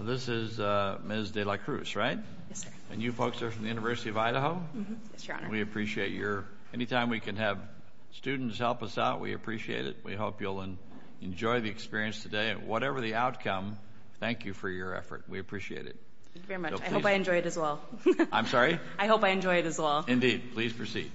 This is Ms. de la Cruz, right? Yes, sir. And you folks are from the University of Idaho? Yes, Your Honor. We appreciate your...anytime we can have students help us out, we appreciate it. We hope you'll enjoy the experience today. And whatever the outcome, thank you for your effort. We appreciate it. Thank you very much. I hope I enjoy it as well. I'm sorry? I hope I enjoy it as well. Indeed. Please proceed.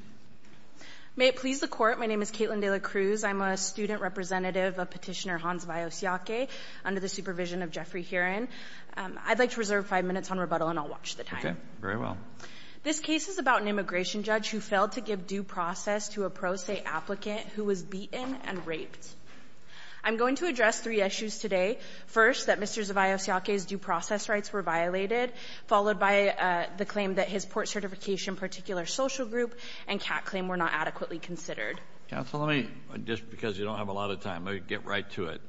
May it please the Court, my name is Caitlin de la Cruz. I'm a student representative of Petitioner Hans Vajos-Llaque under the supervision of Jeffrey Heron. I'd like to reserve five minutes on rebuttal and I'll watch the time. Okay. Very well. This case is about an immigration judge who failed to give due process to a pro se applicant who was beaten and raped. I'm going to address three issues today. First, that Mr. Vajos-Llaque's due process rights were violated, followed by the claim that his Port Certification Particular Social Group and CAT claim were not adequately considered. Counsel, let me, just because you don't have a lot of time, let me get right to it.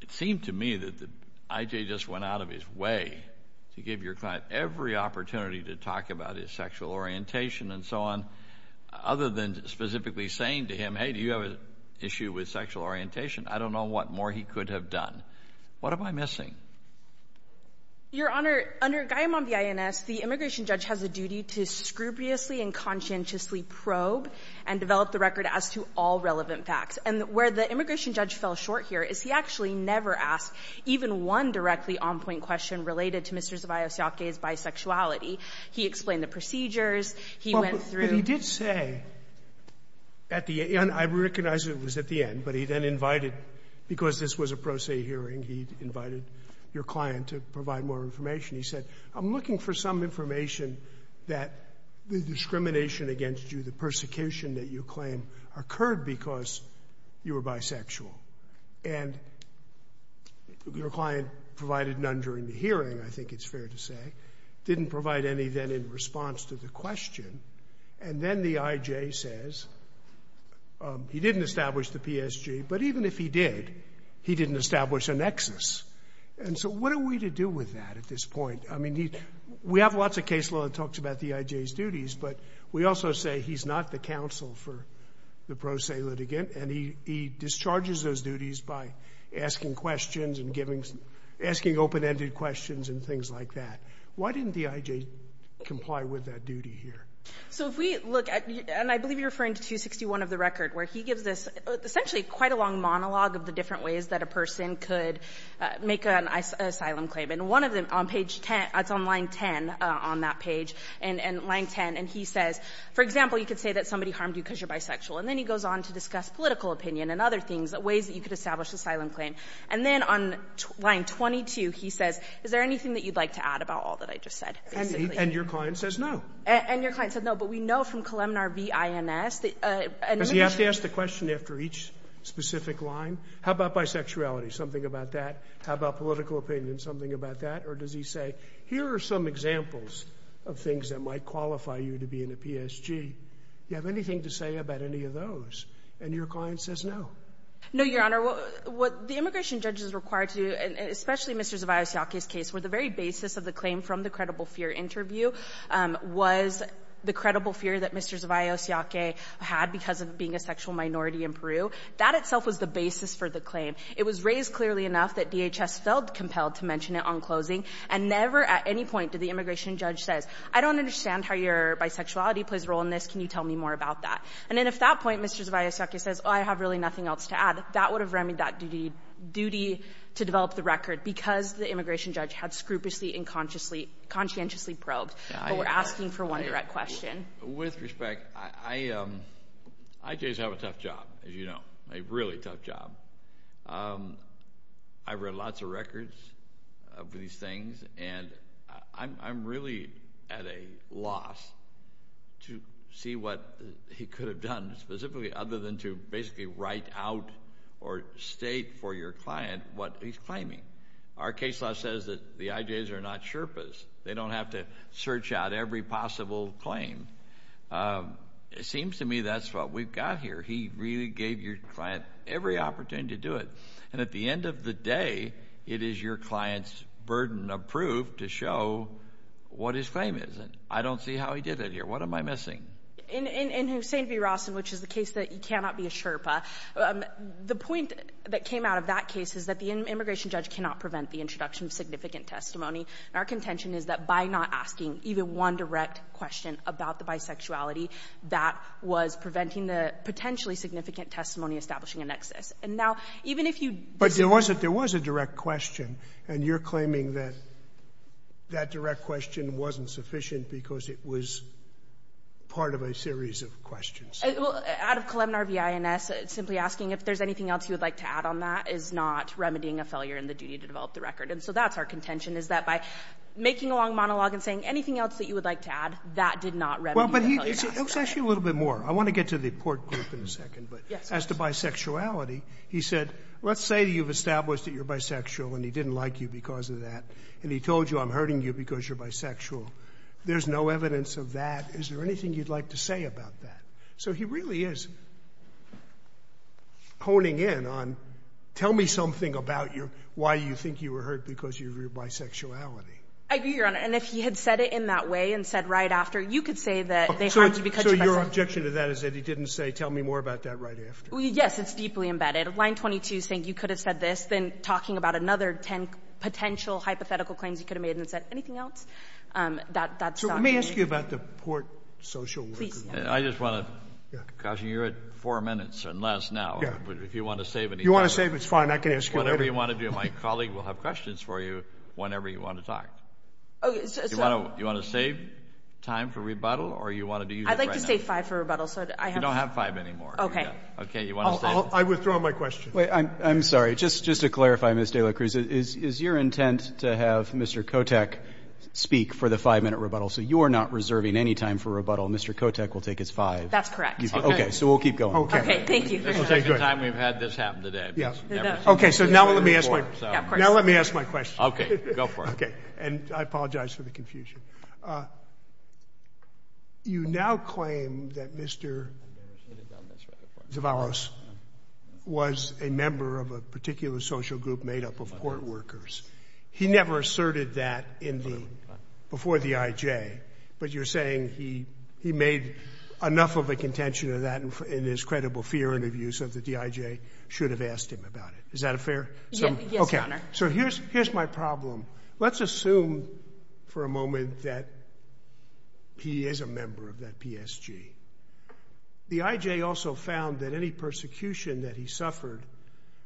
It seemed to me that I.J. just went out of his way to give your client every opportunity to talk about his sexual orientation and so on, other than specifically saying to him, hey, do you have an issue with sexual orientation? I don't know what more he could have done. What am I missing? Your Honor, under Gaiamon v. INS, the immigration judge has a duty to scrupulously and conscientiously probe and develop the record as to all relevant facts. And where the immigration judge fell short here is he actually never asked even one directly on-point question related to Mr. Vajos-Llaque's bisexuality. He explained the procedures. He went through. But he did say at the end, I recognize it was at the end, but he then invited, because this was a pro se hearing, he invited your client to provide more information. He said, I'm looking for some information that the discrimination against you, the persecution that you claim occurred because you were bisexual. And your client provided none during the hearing, I think it's fair to say. Didn't provide any then in response to the question. And then the I.J. says he didn't establish the PSG. But even if he did, he didn't establish a nexus. And so what are we to do with that at this point? I mean, we have lots of case law that talks about the I.J.'s duties. But we also say he's not the counsel for the pro se litigant. And he discharges those duties by asking questions and giving, asking open-ended questions and things like that. Why didn't the I.J. comply with that duty here? So if we look at, and I believe you're referring to 261 of the record, where he gives this essentially quite a long monologue of the different ways that a person could make an asylum claim. And one of them on page 10, it's on line 10 on that page, and line 10, and he says, for example, you could say that somebody harmed you because you're bisexual. And then he goes on to discuss political opinion and other things, ways that you could establish asylum claim. And then on line 22, he says, is there anything that you'd like to add about all that I just said, basically? And your client says no. And your client said no. But we know from Colemnar v. I.N.S. Because you have to ask the question after each specific line. How about bisexuality? Something about that. How about political opinion? Something about that. Or does he say, here are some examples of things that might qualify you to be in a PSG. Do you have anything to say about any of those? And your client says no. No, Your Honor. What the immigration judges are required to do, and especially Mr. Zavaios Yaque's case, where the very basis of the claim from the credible fear interview was the credible fear that Mr. Zavaios Yaque had because of being a sexual minority in the case for the claim. It was raised clearly enough that DHS felt compelled to mention it on closing, and never at any point did the immigration judge say, I don't understand how your bisexuality plays a role in this. Can you tell me more about that? And if at that point Mr. Zavaios Yaque says, oh, I have really nothing else to add, that would have remedied that duty to develop the record because the immigration judge had scrupulously and conscientiously probed. But we're asking for one direct question. With respect, IJs have a tough job, as you know, a really tough job. I've read lots of records of these things, and I'm really at a loss to see what he could have done specifically other than to basically write out or state for your client what he's claiming. Our case law says that the IJs are not sherpas. They don't have to search out every possible claim. It seems to me that's what we've got here. He really gave your client every opportunity to do it. And at the end of the day, it is your client's burden of proof to show what his claim is. And I don't see how he did it here. What am I missing? In Hussein v. Rossin, which is the case that you cannot be a sherpa, the point that came out of that case is that the immigration judge cannot prevent the introduction of significant testimony. And our contention is that by not asking even one direct question about the bisexuality, that was preventing the potentially significant testimony establishing a nexus. And now, even if you do that. Scalia. But there was a direct question, and you're claiming that that direct question wasn't sufficient because it was part of a series of questions. Well, out of Kalemnar v. INS, simply asking if there's anything else you would like to add on that is not remedying a failure in the duty to develop the record. And so that's our contention, is that by making a long monologue and saying anything else that you would like to add, that did not remedy the failure. Well, but it was actually a little bit more. I want to get to the port group in a second. But as to bisexuality, he said, let's say you've established that you're bisexual and he didn't like you because of that. And he told you, I'm hurting you because you're bisexual. There's no evidence of that. Is there anything you'd like to say about that? So he really is honing in on, tell me something about why you think you were hurt because of your bisexuality. I agree, Your Honor. And if he had said it in that way and said right after, you could say that they harmed you because you're bisexual. So your objection to that is that he didn't say, tell me more about that right after. Yes, it's deeply embedded. Line 22 is saying you could have said this, then talking about another ten potential hypothetical claims you could have made and said anything else. That's not the case. So let me ask you about the port social work. Please. I just want to caution you. You're at four minutes or less now. Yeah. If you want to save any time. If you want to save, it's fine. I can ask you later. Whatever you want to do, my colleague will have questions for you whenever you want to talk. You want to save time for rebuttal or you want to use it right now? I'd like to save five for rebuttal. You don't have five anymore. Okay. I withdraw my question. I'm sorry. Just to clarify, Ms. De La Cruz, is your intent to have Mr. Kotech speak for the five-minute rebuttal? So you're not reserving any time for rebuttal. Mr. Kotech will take his five. That's correct. Okay. So we'll keep going. Okay. Thank you. This is the second time we've had this happen today. Okay. So now let me ask my question. Now let me ask my question. Okay. Go for it. Okay. And I apologize for the confusion. You now claim that Mr. Zavallos was a member of a particular social group made up of port workers. He never asserted that before the IJ, but you're saying he made enough of a contention of that in his credible fear interviews that the IJ should have asked him about it. Is that fair? Yes, Your Honor. Okay. So here's my problem. Let's assume for a moment that he is a member of that PSG. The IJ also found that any persecution that he suffered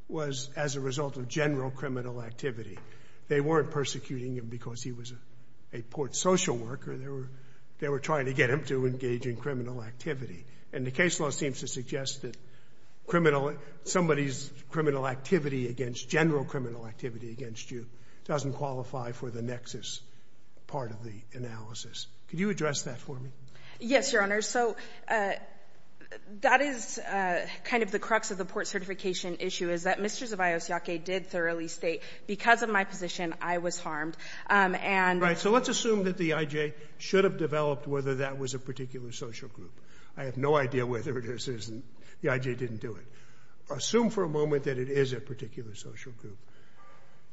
was as a result of general criminal activity. They weren't persecuting him because he was a port social worker. They were trying to get him to engage in criminal activity. And the case law seems to suggest that criminal — somebody's criminal activity against — general criminal activity against you doesn't qualify for the nexus part of the analysis. Could you address that for me? Yes, Your Honor. So that is kind of the crux of the port certification issue, is that Mr. Zavallos Yaque did thoroughly state, because of my position, I was harmed. And — Right. So let's assume that the IJ should have developed whether that was a particular social group. I have no idea whether this is — the IJ didn't do it. Assume for a moment that it is a particular social group.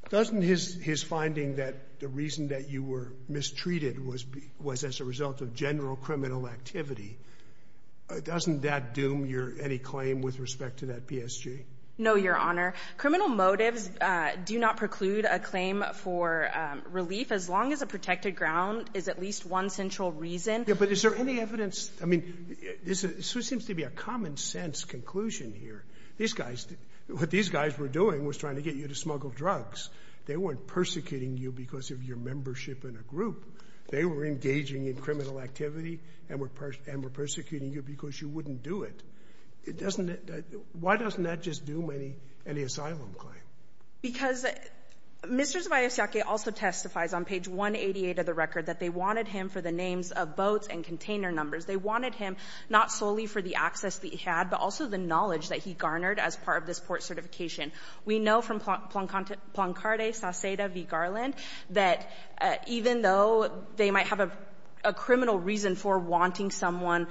Doesn't his finding that the reason that you were mistreated was as a result of general criminal activity, doesn't that doom your — any claim with respect to that PSG? No, Your Honor. Criminal motives do not preclude a claim for relief, as long as a protected ground is at least one central reason. Yeah, but is there any evidence — I mean, this seems to be a common-sense conclusion here. These guys — what these guys were doing was trying to get you to smuggle drugs. They weren't persecuting you because of your membership in a group. They were engaging in criminal activity and were persecuting you because you wouldn't do it. It doesn't — why doesn't that just doom any asylum claim? Because Mr. Zavallos Yaque also testifies on page 188 of the record that they wanted him for the names of boats and container numbers. They wanted him not solely for the access that he had, but also the knowledge that he garnered as part of this port certification. We know from Plancarte Saceda v. Garland that even though they might have a criminal reason for wanting someone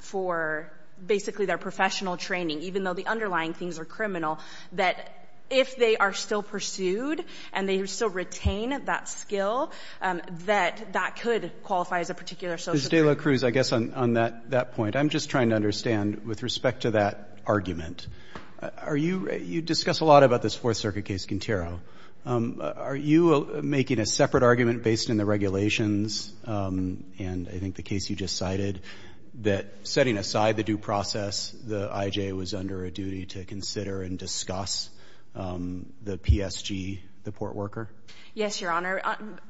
for basically their professional training, even though the underlying things are criminal, that if they are still pursued and they still retain that skill, that that could qualify as a particular social group. Ms. De La Cruz, I guess on that point, I'm just trying to understand with respect to that argument. Are you — you discuss a lot about this Fourth Circuit case, Quintero. Are you making a separate argument based on the regulations and I think the case you just cited that setting aside the due process, the I.J. was under a duty to Yes, Your Honor.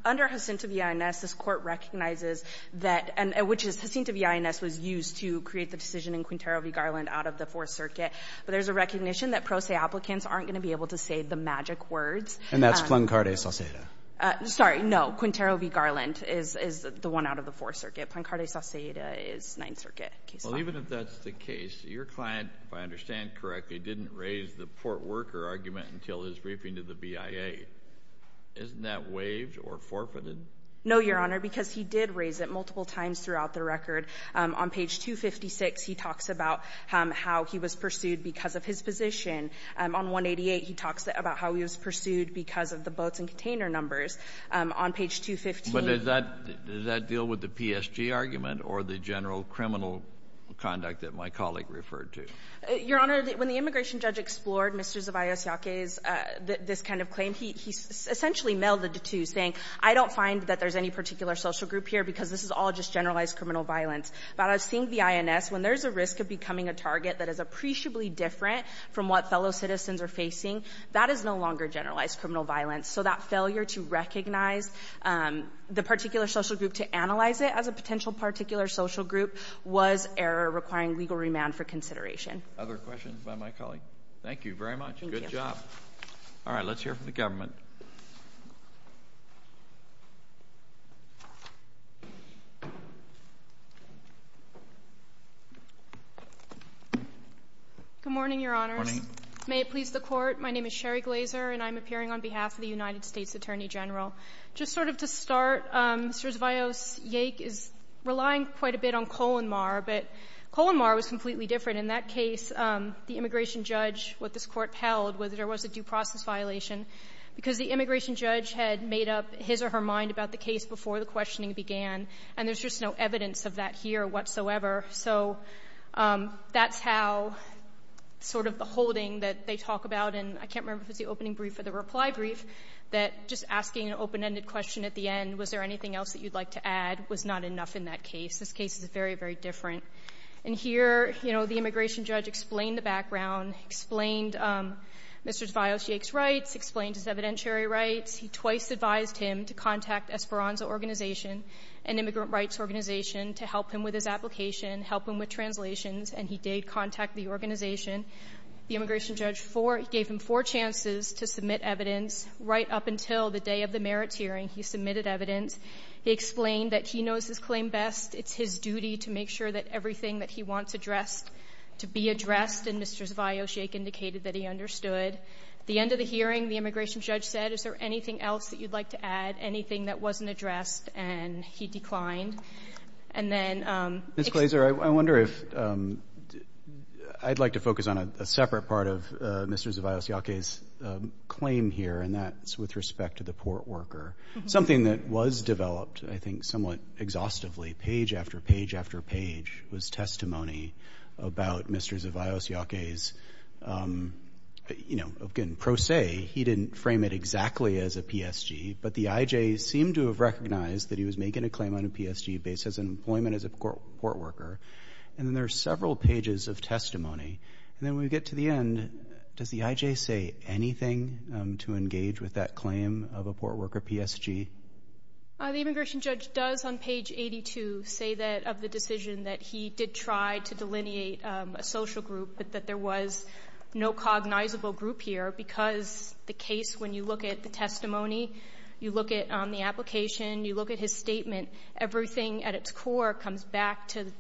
Under Jacinto v. INS, this court recognizes that — which is Jacinto v. INS was used to create the decision in Quintero v. Garland out of the Fourth Circuit. But there's a recognition that pro se applicants aren't going to be able to say the magic words. And that's Plancarte Saceda. Sorry, no. Quintero v. Garland is the one out of the Fourth Circuit. Plancarte Saceda is Ninth Circuit. Well, even if that's the case, your client, if I understand correctly, didn't raise the port worker argument until his briefing to the BIA. Isn't that waived or forfeited? No, Your Honor, because he did raise it multiple times throughout the record. On page 256, he talks about how he was pursued because of his position. On 188, he talks about how he was pursued because of the boats and container numbers. On page 215 — But does that — does that deal with the PSG argument or the general criminal conduct that my colleague referred to? Your Honor, when the immigration judge explored Mr. Zavallos Yaque's — this kind of claim, he essentially melded the two, saying, I don't find that there's any particular social group here because this is all just generalized criminal violence. But I've seen the INS. When there's a risk of becoming a target that is appreciably different from what fellow citizens are facing, that is no longer generalized criminal violence. So that failure to recognize the particular social group to analyze it as a potential particular social group was error requiring legal remand for consideration. Other questions by my colleague? Thank you very much. Good job. All right. Let's hear from the government. Good morning, Your Honors. Good morning. May it please the Court. My name is Sherry Glazer, and I'm appearing on behalf of the United States Attorney General. Just sort of to start, Mr. Zavallos Yaque is relying quite a bit on Colin Marr, but Colin Marr was completely different. In that case, the immigration judge, what this Court held was there was a due process violation because the immigration judge had made up his or her mind about the case before the questioning began, and there's just no evidence of that here whatsoever. So that's how sort of the holding that they talk about, and I can't remember if it was the opening brief or the reply brief, that just asking an open-ended question at the end, was there anything else that you'd like to add, was not enough in that case. This case is very, very different. And here, you know, the immigration judge explained the background, explained Mr. Zavallos Yaque's rights, explained his evidentiary rights. He twice advised him to contact Esperanza Organization, an immigrant rights organization, to help him with his application, help him with translations, and he did contact the organization. The immigration judge gave him four chances to submit evidence. Right up until the day of the merits hearing, he submitted evidence. He explained that he knows his claim best. It's his duty to make sure that everything that he wants addressed, to be addressed, and Mr. Zavallos Yaque indicated that he understood. At the end of the hearing, the immigration judge said, is there anything else that you'd like to add, anything that wasn't addressed? And he declined. And then — Mr. Glaser, I wonder if — I'd like to focus on a separate part of Mr. Zavallos Yaque's claim here, and that's with respect to the port worker, something that was developed, I think, somewhat exhaustively, page after page after page was testimony about Mr. Zavallos Yaque's, you know, again, pro se. He didn't frame it exactly as a PSG, but the IJ seemed to have recognized that he was making a claim on a PSG based on his employment as a port worker. And then there are several pages of testimony. And then when we get to the end, does the IJ say anything to engage with that claim of a port worker PSG? The immigration judge does, on page 82, say that — of the decision that he did try to delineate a social group, but that there was no cognizable group here, because the case, when you look at the testimony, you look at the application, you look at his statement, everything at its core comes back to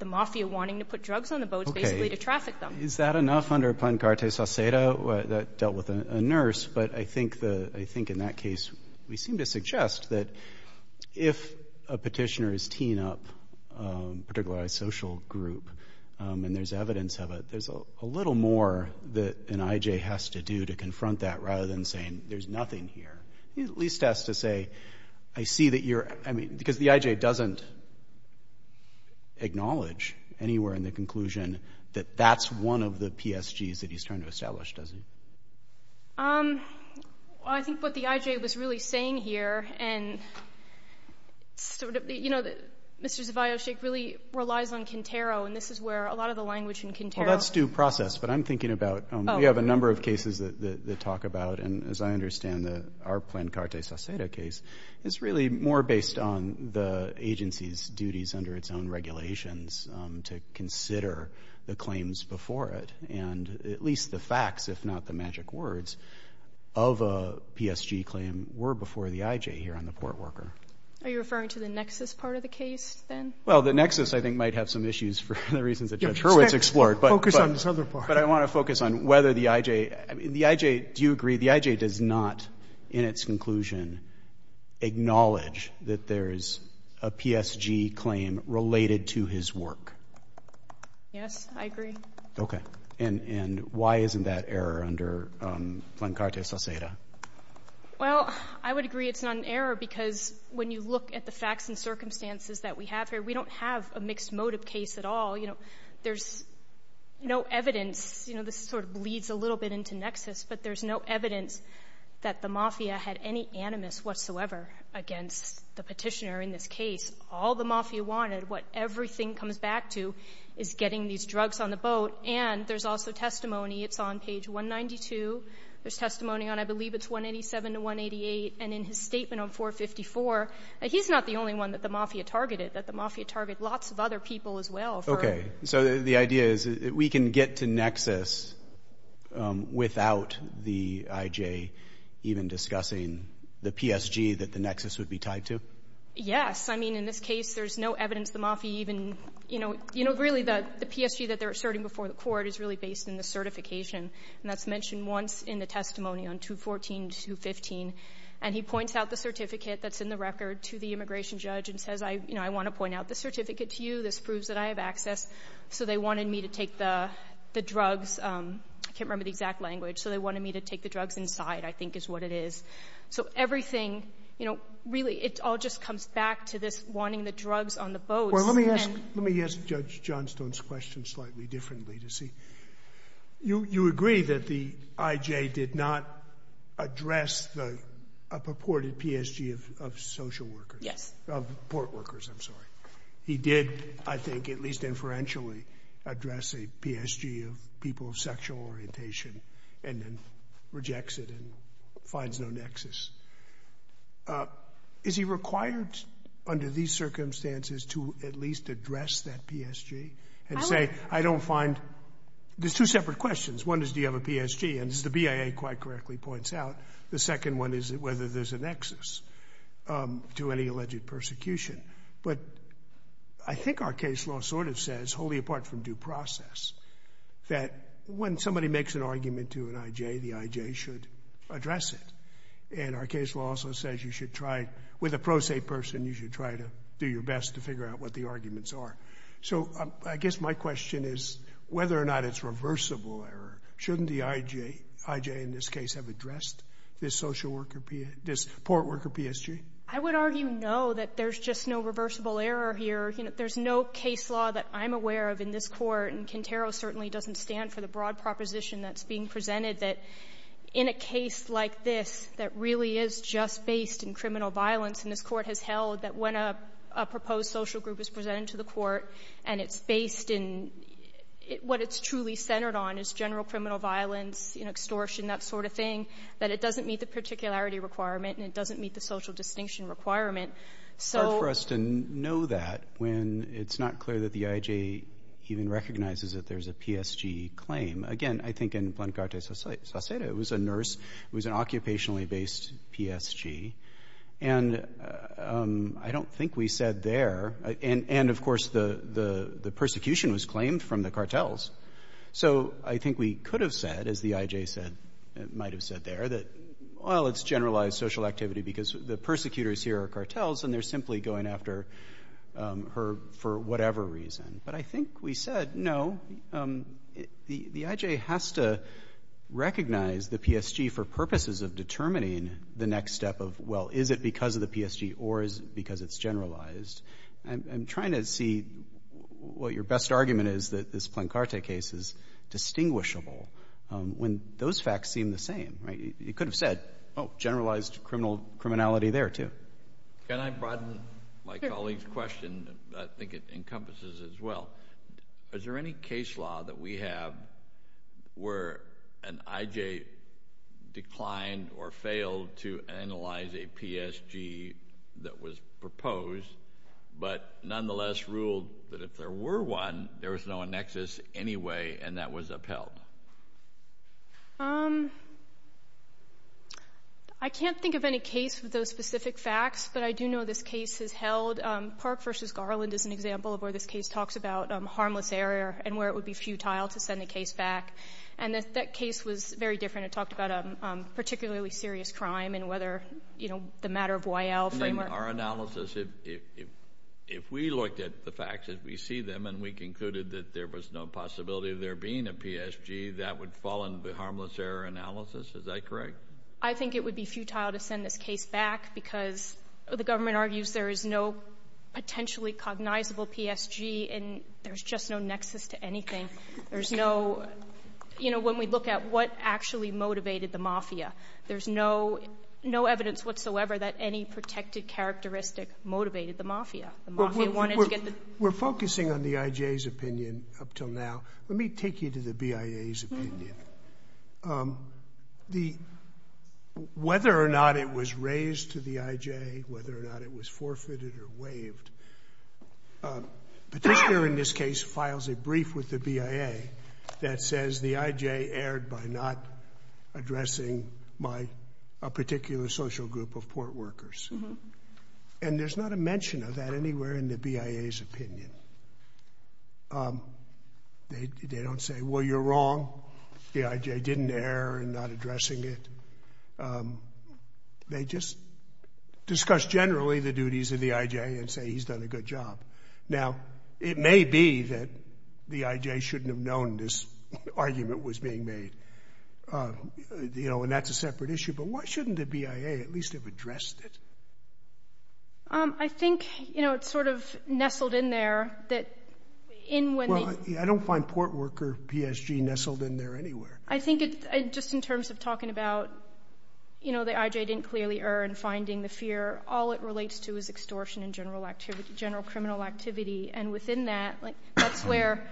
the mafia wanting to put drugs on the boats, basically, to traffic them. Okay. Is that enough under Plan Carte Saucedo that dealt with a nurse? But I think, in that case, we seem to suggest that if a petitioner is teeing up a particularized social group and there's evidence of it, there's a little more that an IJ has to do to confront that rather than saying, there's nothing here. He at least has to say, I see that you're — I mean, because the IJ doesn't acknowledge anywhere in the conclusion that that's one of the PSGs that he's trying to establish, does he? Well, I think what the IJ was really saying here, and sort of — you know, Mr. Zevallo's case really relies on Quintero, and this is where a lot of the language in Quintero — Well, that's due process, but I'm thinking about — Oh, okay. We have a number of cases that talk about, and as I understand, our Plan Carte Saucedo case is really more based on the agency's duties under its own regulations to consider the claims before it, and at least the facts, if not the magic words, of a PSG claim were before the IJ here on the Port Worker. Are you referring to the nexus part of the case, then? Well, the nexus, I think, might have some issues for the reasons that Judge Hurwitz explored, but — Focus on this other part. But I want to focus on whether the IJ — I mean, the IJ — in its conclusion acknowledge that there is a PSG claim related to his work. Yes, I agree. Okay. And why isn't that error under Plan Carte Saucedo? Well, I would agree it's not an error because when you look at the facts and circumstances that we have here, we don't have a mixed motive case at all. You know, there's no evidence — you know, this sort of bleeds a little bit into nexus, but there's no evidence that the mafia had any animus whatsoever against the petitioner in this case. All the mafia wanted, what everything comes back to, is getting these drugs on the boat. And there's also testimony — it's on page 192. There's testimony on, I believe, it's 187 to 188. And in his statement on 454, he's not the only one that the mafia targeted, that the mafia targeted lots of other people as well. Okay. So the idea is that we can get to nexus without the I.J. even discussing the PSG that the nexus would be tied to? Yes. I mean, in this case, there's no evidence the mafia even — you know, really, the PSG that they're asserting before the court is really based in the certification. And that's mentioned once in the testimony on 214 to 215. And he points out the certificate that's in the record to the immigration judge and says, you know, I want to point out the certificate to you. This proves that I have access. So they wanted me to take the drugs. I can't remember the exact language. So they wanted me to take the drugs inside, I think is what it is. So everything, you know, really, it all just comes back to this wanting the drugs on the boat. Well, let me ask — let me ask Judge Johnstone's question slightly differently to see. You agree that the I.J. did not address the purported PSG of social workers? Yes. Of port workers, I'm sorry. He did, I think, at least inferentially address a PSG of people of sexual orientation and then rejects it and finds no nexus. Is he required under these circumstances to at least address that PSG and say, I don't find — there's two separate questions. One is, do you have a PSG? And as the BIA quite correctly points out, the second one is whether there's a nexus to any alleged persecution. But I think our case law sort of says, wholly apart from due process, that when somebody makes an argument to an I.J., the I.J. should address it. And our case law also says you should try — with a pro se person, you should try to do your best to figure out what the arguments are. So I guess my question is whether or not it's reversible error. Shouldn't the I.J. in this case have addressed this social worker — this port worker PSG? I would argue no, that there's just no reversible error here. There's no case law that I'm aware of in this Court, and Quintero certainly doesn't stand for the broad proposition that's being presented, that in a case like this, that really is just based in criminal violence, and this Court has held that when a proposed social group is presented to the Court and it's based in — what it's truly centered on is general criminal violence, extortion, that sort of thing, that it doesn't meet the particularity requirement and it doesn't meet the social distinction requirement. It's hard for us to know that when it's not clear that the I.J. even recognizes that there's a PSG claim. Again, I think in Blancarte Saceda, it was a nurse, it was an occupationally-based PSG, and I don't think we said there — and, of course, the persecution was claimed from the cartels. So I think we could have said, as the I.J. said, might have said there, that, well, it's generalized social activity because the persecutors here are cartels and they're simply going after her for whatever reason. But I think we said, no, the I.J. has to recognize the PSG for purposes of determining the next step of, well, is it because of the PSG or is it because it's generalized? I'm trying to see what your best argument is that this Blancarte case is distinguishable. When those facts seem the same, right? You could have said, oh, generalized criminality there, too. Can I broaden my colleague's question? I think it encompasses it as well. Is there any case law that we have where an I.J. declined or failed to analyze a PSG that was proposed but nonetheless ruled that if there were one, there was no annexes anyway and that was upheld? Um... I can't think of any case with those specific facts, but I do know this case has held. Park v. Garland is an example of where this case talks about harmless error and where it would be futile to send a case back. And that case was very different. It talked about a particularly serious crime and whether the matter of Y.L. framework... Our analysis, if we looked at the facts, if we see them and we concluded that there was no possibility of there being a PSG, that would fall into the harmless error analysis? Is that correct? I think it would be futile to send this case back because the government argues there is no potentially cognizable PSG and there's just no nexus to anything. There's no... You know, when we look at what actually motivated the mafia, there's no evidence whatsoever that any protected characteristic motivated the mafia. The mafia wanted to get the... We're focusing on the I.J.'s opinion up till now. Let me take you to the B.I.A.'s opinion. Whether or not it was raised to the I.J., whether or not it was forfeited or waived, Petitioner in this case files a brief with the B.I.A. that says the I.J. erred by not addressing a particular social group of port workers. And there's not a mention of that anywhere in the B.I.A.'s opinion. They don't say, well, you're wrong, the I.J. didn't err in not addressing it. They just discuss generally the duties of the I.J. and say he's done a good job. Now, it may be that the I.J. shouldn't have known this argument was being made. And that's a separate issue. But why shouldn't the B.I.A. at least have addressed it? I think it's sort of nestled in there that in when they... I don't find port worker PSG nestled in there anywhere. I think just in terms of talking about the I.J. didn't clearly err in finding the fear, all it relates to is extortion and general criminal activity. And within that, that's where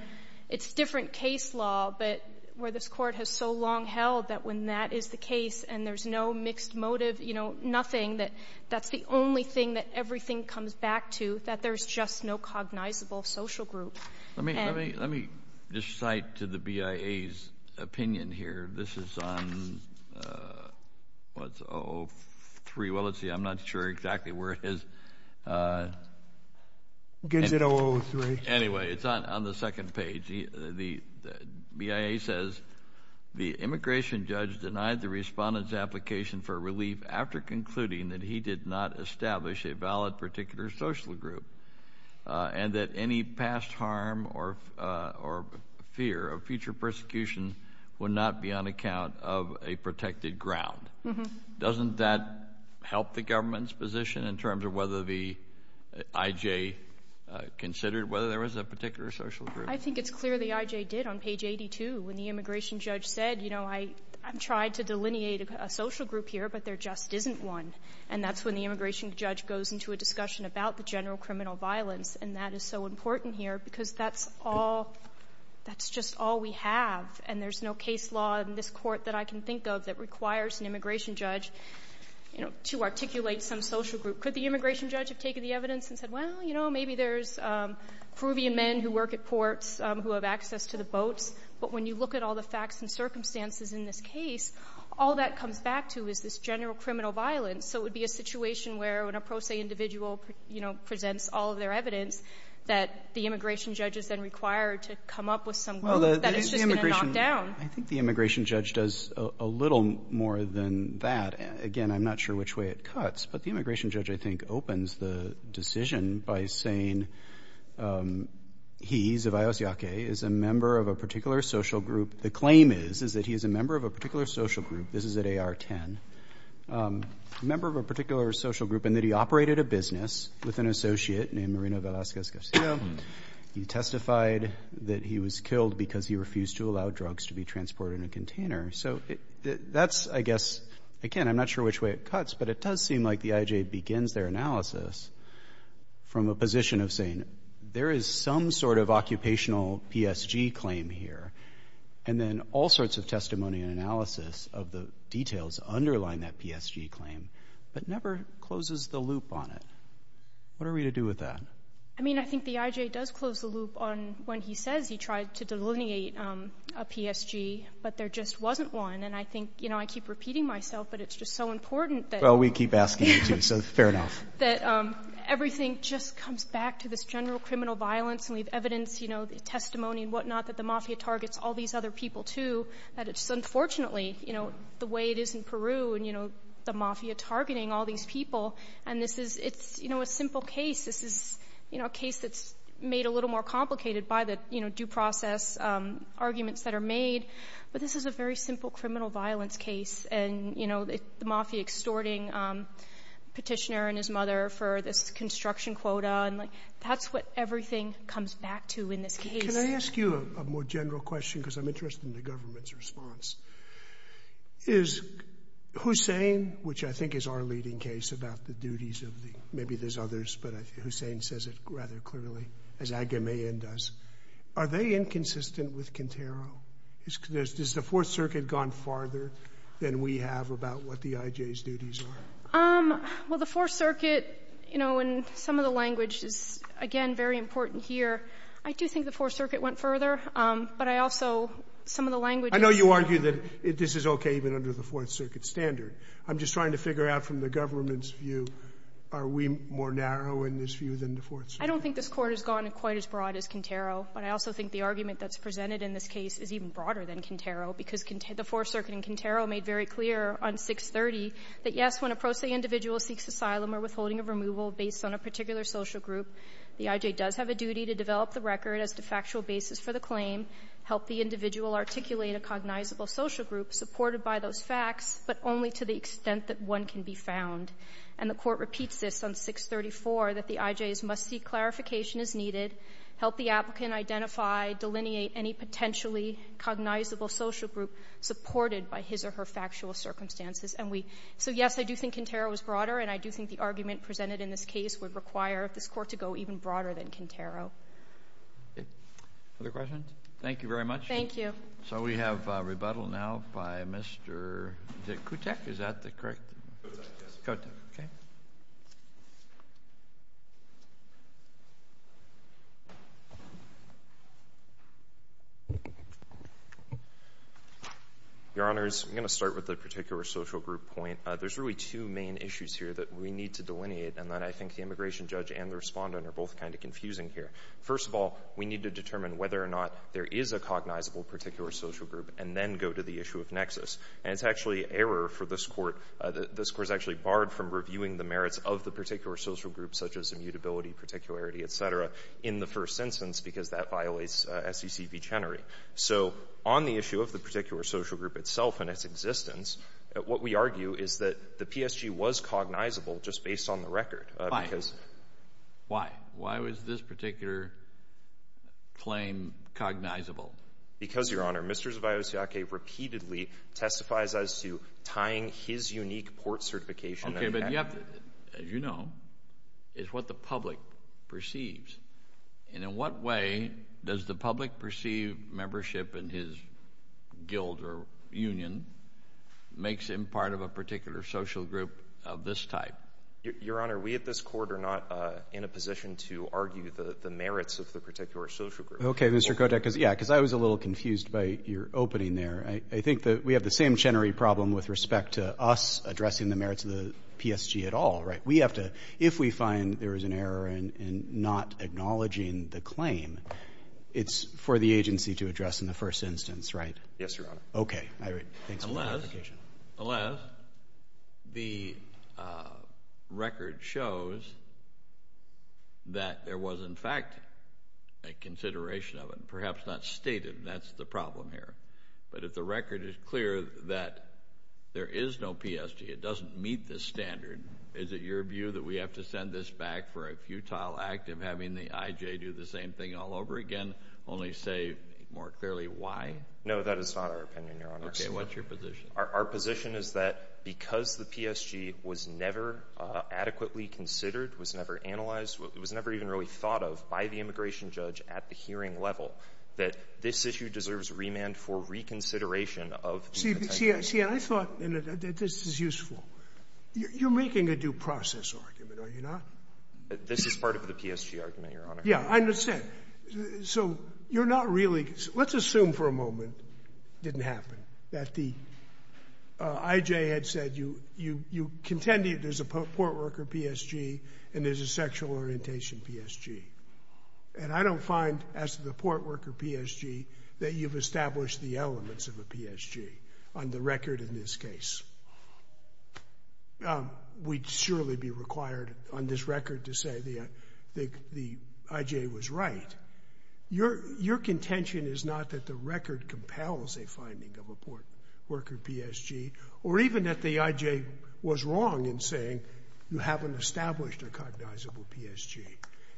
it's different case law, but where this Court has so long held that when that is the case and there's no mixed motive, you know, nothing, that that's the only thing that everything comes back to, that there's just no cognizable social group. Let me just cite to the B.I.A.'s opinion here. This is on, what's it, 03, well, let's see, I'm not sure exactly where it is. Anyway, it's on the second page. The B.I.A. says, the immigration judge denied the respondent's application for relief after concluding that he did not establish a valid particular social group and that any past harm or fear of future persecution would not be on account of a protected ground. Doesn't that help the government's position in terms of whether the I.J. considered whether there was a particular social group? I think it's clear the I.J. did on page 82 when the immigration judge said, you know, I've tried to delineate a social group here, but there just isn't one. And that's when the immigration judge goes into a discussion about the general criminal violence. And that is so important here, because that's all, that's just all we have, and there's no case law in this court that I can think of that requires an immigration judge, you know, to articulate some social group. Could the immigration judge have taken the evidence and said, well, you know, maybe there's Peruvian men who work at ports who have access to the boats, but when you look at all the facts and circumstances in this case, all that comes back to is this general criminal violence. So it would be a situation where when a pro se individual, you know, presents all of their evidence, that the immigration judge is then required to come up with some group that is just going to knock down. Well, the immigration, I think the immigration judge does a little more than that. Again, I'm not sure which way it cuts, but the immigration judge, I think, opens the decision by saying he's, of Ayos Yaque, is a member of a particular social group, the claim is, is that he's a member of a particular social group, this is at AR-10, a member of a particular social group, and that he operated a business with an associate named Marina Velasquez Garcia. He testified that he was killed because he refused to allow drugs to be transported in a container. So that's, I guess, again, I'm not sure which way it cuts, but it does seem like the IJ begins their analysis from a position of saying, there is some sort of occupational PSG claim here, and then all sorts of testimony and analysis of the details underline that PSG claim, but never closes the loop on it. What are we to do with that? I mean, I think the IJ does close the loop on when he says he tried to delineate a PSG, but there just wasn't one, and I think, you know, I keep repeating myself, but it's just so important that... Well, we keep asking you, too, so fair enough. ...that everything just comes back to this general criminal violence, and we have evidence, you know, testimony and whatnot that the mafia targets all these other people, too, that it's unfortunately, you know, the way it is in Peru, and, you know, the mafia targeting all these people, and this is, you know, a simple case, this is, you know, a case that's made a little more complicated by the, you know, due process arguments that are made, but this is a very simple criminal violence case, and, you know, the mafia extorting petitioner and his mother for this construction quota, and that's what everything comes back to in this case. Can I ask you a more general question, because I'm interested in the government's response? Is Hussein, which I think is our leading case about the duties of the... Maybe there's others, but Hussein says it rather clearly, as Agamemnon does. Are they inconsistent with Quintero? Has the Fourth Circuit gone farther than we have about what the IJ's duties are? Um, well, the Fourth Circuit, you know, in some of the language is, again, very important here. I do think the Fourth Circuit went further, but I also... Some of the language... I know you argue that this is okay even under the Fourth Circuit standard. I'm just trying to figure out from the government's view, are we more narrow in this view than the Fourth Circuit? I don't think this Court has gone quite as broad as Quintero, but I also think the argument that's presented in this case is even broader than Quintero, because the Fourth Circuit and Quintero made very clear on 630 that, yes, when a pro se individual seeks asylum or withholding of removal based on a particular social group, the IJ does have a duty to develop the record as the factual basis for the claim, help the individual articulate a cognizable social group supported by those facts, but only to the extent that one can be found. And the Court repeats this on 634, that the IJs must seek clarification as needed, help the applicant identify, delineate any potentially cognizable social group supported by his or her I do think Quintero is broader, and I do think the argument presented in this case would require this Court to go even broader than Quintero. Thank you very much. So we have rebuttal now by Mr. Kotek. Is that the correct? Your Honors, I'm going to start with the particular social group point. There's really two main issues here that we need to delineate, and that I think the immigration judge and the respondent are both kind of confusing here. First of all, we need to determine whether or not there is a cognizable particular social group, and then go to the issue of nexus. And it's actually error for this Court. This Court is actually barred from reviewing the merits of the particular social group, such as immutability, particularity, et cetera, in the first instance, because that violates SEC v Chenery. So on the issue of the particular social group itself and its existence, what we argue is that the PSG was cognizable just based on the record. Why? Why was this particular claim cognizable? Because, Your Honor, Mr. Zviosiake repeatedly testifies as to tying his unique port certification. As you know, it's what the public perceives. And in what way does the public perceive membership in his guild or union makes him part of a particular social group of this type? Your Honor, we at this Court are not in a position to Mr. Kotek, because I was a little confused by your opening there. I think that we have the same Chenery problem with respect to us addressing the merits of the PSG at all, right? We have to, if we find there is an error in not acknowledging the claim, it's for the agency to address in the first instance, right? Yes, Your Honor. Okay. Alas, the record shows that there was in fact a consideration of it, perhaps not stated, and that's the problem here. But if the record is clear that there is no PSG, it doesn't meet the standard, is it your view that we have to send this back for a futile act of having the IJ do the same thing all over again, only say more clearly why? No, that is not our opinion, Your Honor. Okay, what's your position? Our position is that because the PSG was never adequately considered, was never analyzed, was never even really thought of by the immigration judge at the hearing level, that this issue deserves remand for reconsideration of the content. See, I thought that this is useful. You're making a due process argument, are you not? This is part of the PSG argument, Your Honor. Yeah, I understand. So you're not really, let's assume for a moment it didn't happen, that the IJ had said you contended there's a port worker PSG and there's a sexual orientation PSG. And I don't find, as to the port worker PSG, that you've established the elements of a PSG on the record in this case. We'd surely be required on this record to say the IJ was right. Your contention is not that the record compels a port worker PSG, or even that the IJ was wrong in saying you haven't established a cognizable PSG.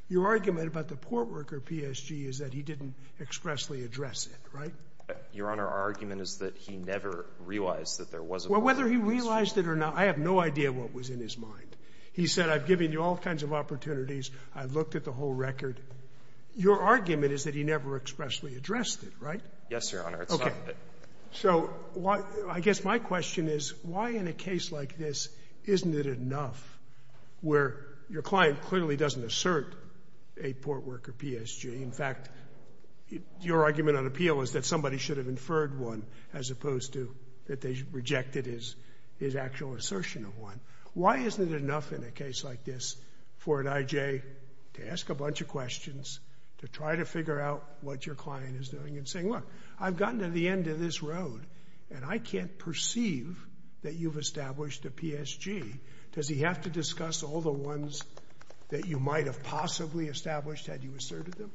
Your argument about the port worker PSG is that he didn't expressly address it, right? Your Honor, our argument is that he never realized that there was a port worker PSG. Well, whether he realized it or not, I have no idea what was in his mind. He said, I've given you all kinds of opportunities. I've looked at the whole record. Your argument is that he never expressly addressed it, right? Yes, Your Honor. Okay. So, I guess my question is, why in a case like this isn't it enough where your client clearly doesn't assert a port worker PSG? In fact, your argument on appeal is that somebody should have inferred one as opposed to that they rejected his actual assertion of one. Why isn't it enough in a case like this for an IJ to ask a bunch of questions to try to figure out what your client is doing and saying, look, I've gotten to the end of this road and I can't perceive that you've established a PSG. Does he have to discuss all the ones that you might have possibly established had you asserted them?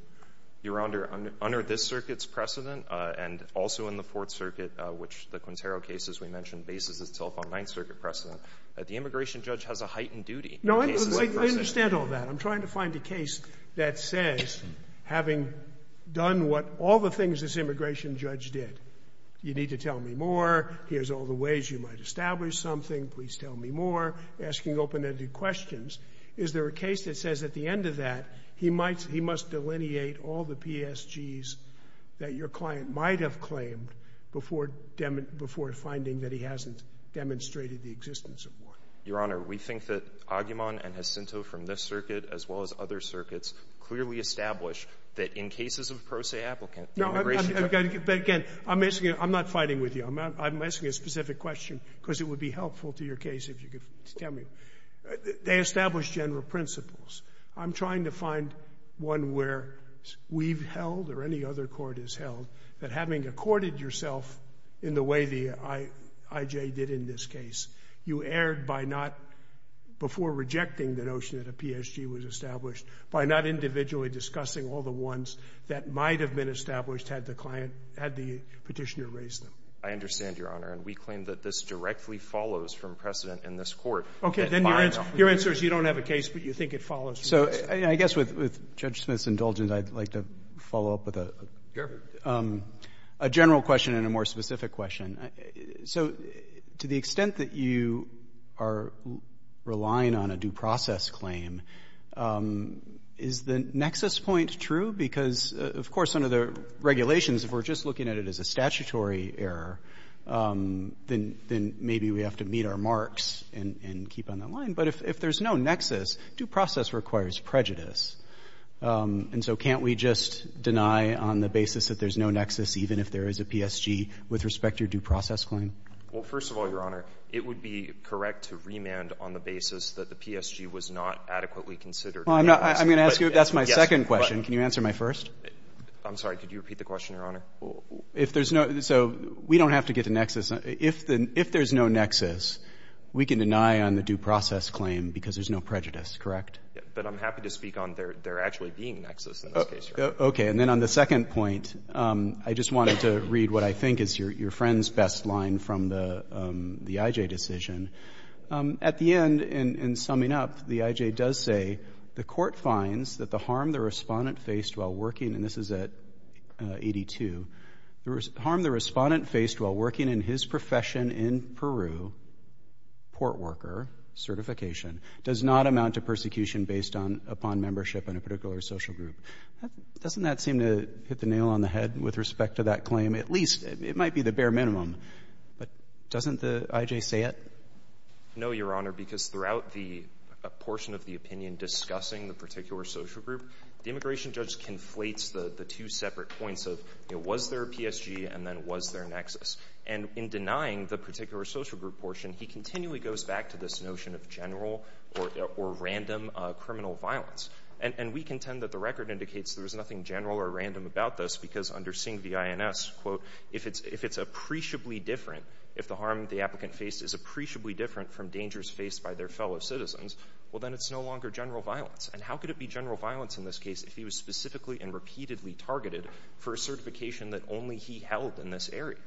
Your Honor, under this circuit's precedent and also in the Fourth Circuit, which the Quintero case, as we mentioned, bases itself on Ninth Circuit precedent, the immigration judge has a heightened duty. No, I understand all that. I'm trying to find a case that says having done what all the things this immigration judge did, you need to tell me more, here's all the ways you might establish something, please tell me more, asking open-ended questions, is there a case that says at the end of that he must delineate all the PSGs that your client might have claimed before finding that he hasn't demonstrated the existence of one? Your Honor, we think that Aguiman and Jacinto from this circuit, as well as other circuits, clearly establish that in cases of pro se applicants, the immigration judge But again, I'm not fighting with you. I'm asking a specific question because it would be helpful to your case if you could tell me. They established general principles. I'm trying to find one where we've held, or any other court has held, that having accorded yourself in the way the before rejecting the notion that a PSG was established, by not individually discussing all the ones that might have been established had the client had the petitioner raised them. I understand, Your Honor. We claim that this directly follows from precedent in this court. Okay, then your answer is you don't have a case, but you think it follows from precedent. So I guess with Judge Smith's indulgence, I'd like to follow up with a general question and a more specific question. So to the extent that you are relying on a due process claim, is the nexus point true? Because, of course, under the regulations, if we're just looking at it as a statutory error, then maybe we have to meet our marks and keep on the line. But if there's no nexus, due process requires prejudice. And so can't we just deny on the basis that there's no nexus, even if there is a PSG, with respect to your due process claim? Well, first of all, Your Honor, it would be correct to remand on the basis that the PSG was not adequately considered. Well, I'm going to ask you, that's my second question. Can you answer my first? I'm sorry, could you repeat the question, Your Honor? So we don't have to get to nexus. If there's no nexus, we can deny on the due process claim because there's no prejudice, correct? But I'm happy to speak on there actually being no nexus in this case, Your Honor. Okay, and then on the second point, I just wanted to read what I think is your friend's best line from the IJ decision. At the end, in summing up, the IJ does say, the court finds that the harm the Respondent faced while working, and this is at 82, the harm the Respondent faced while working in his profession in Peru, port worker, certification, does not amount to Does that seem to hit the nail on the head with respect to that claim? At least, it might be the bare minimum. But doesn't the IJ say it? No, Your Honor, because throughout the portion of the opinion discussing the particular social group, the immigration judge conflates the two separate points of was there a PSG and then was there a nexus? And in denying the particular social group portion, he continually goes back to this notion of general or And we contend that the record indicates there was nothing general or random about this because under Singh v. INS, if it's appreciably different, if the harm the applicant faced is appreciably different from dangers faced by their fellow citizens, well then it's no longer general violence. And how could it be general violence in this case if he was specifically and repeatedly targeted for a certification that only he held in this area?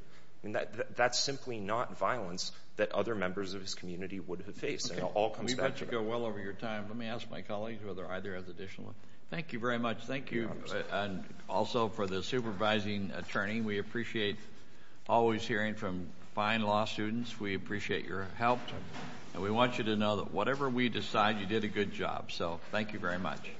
That's simply not violence that other members of his community would have faced. We've got to go well over your time. Let me ask my colleagues whether either has additional. Thank you very much. Thank you also for the supervising attorney. We appreciate always hearing from fine law students. We appreciate your help. And we want you to know that whatever we decide, you did a good job. So thank you very much.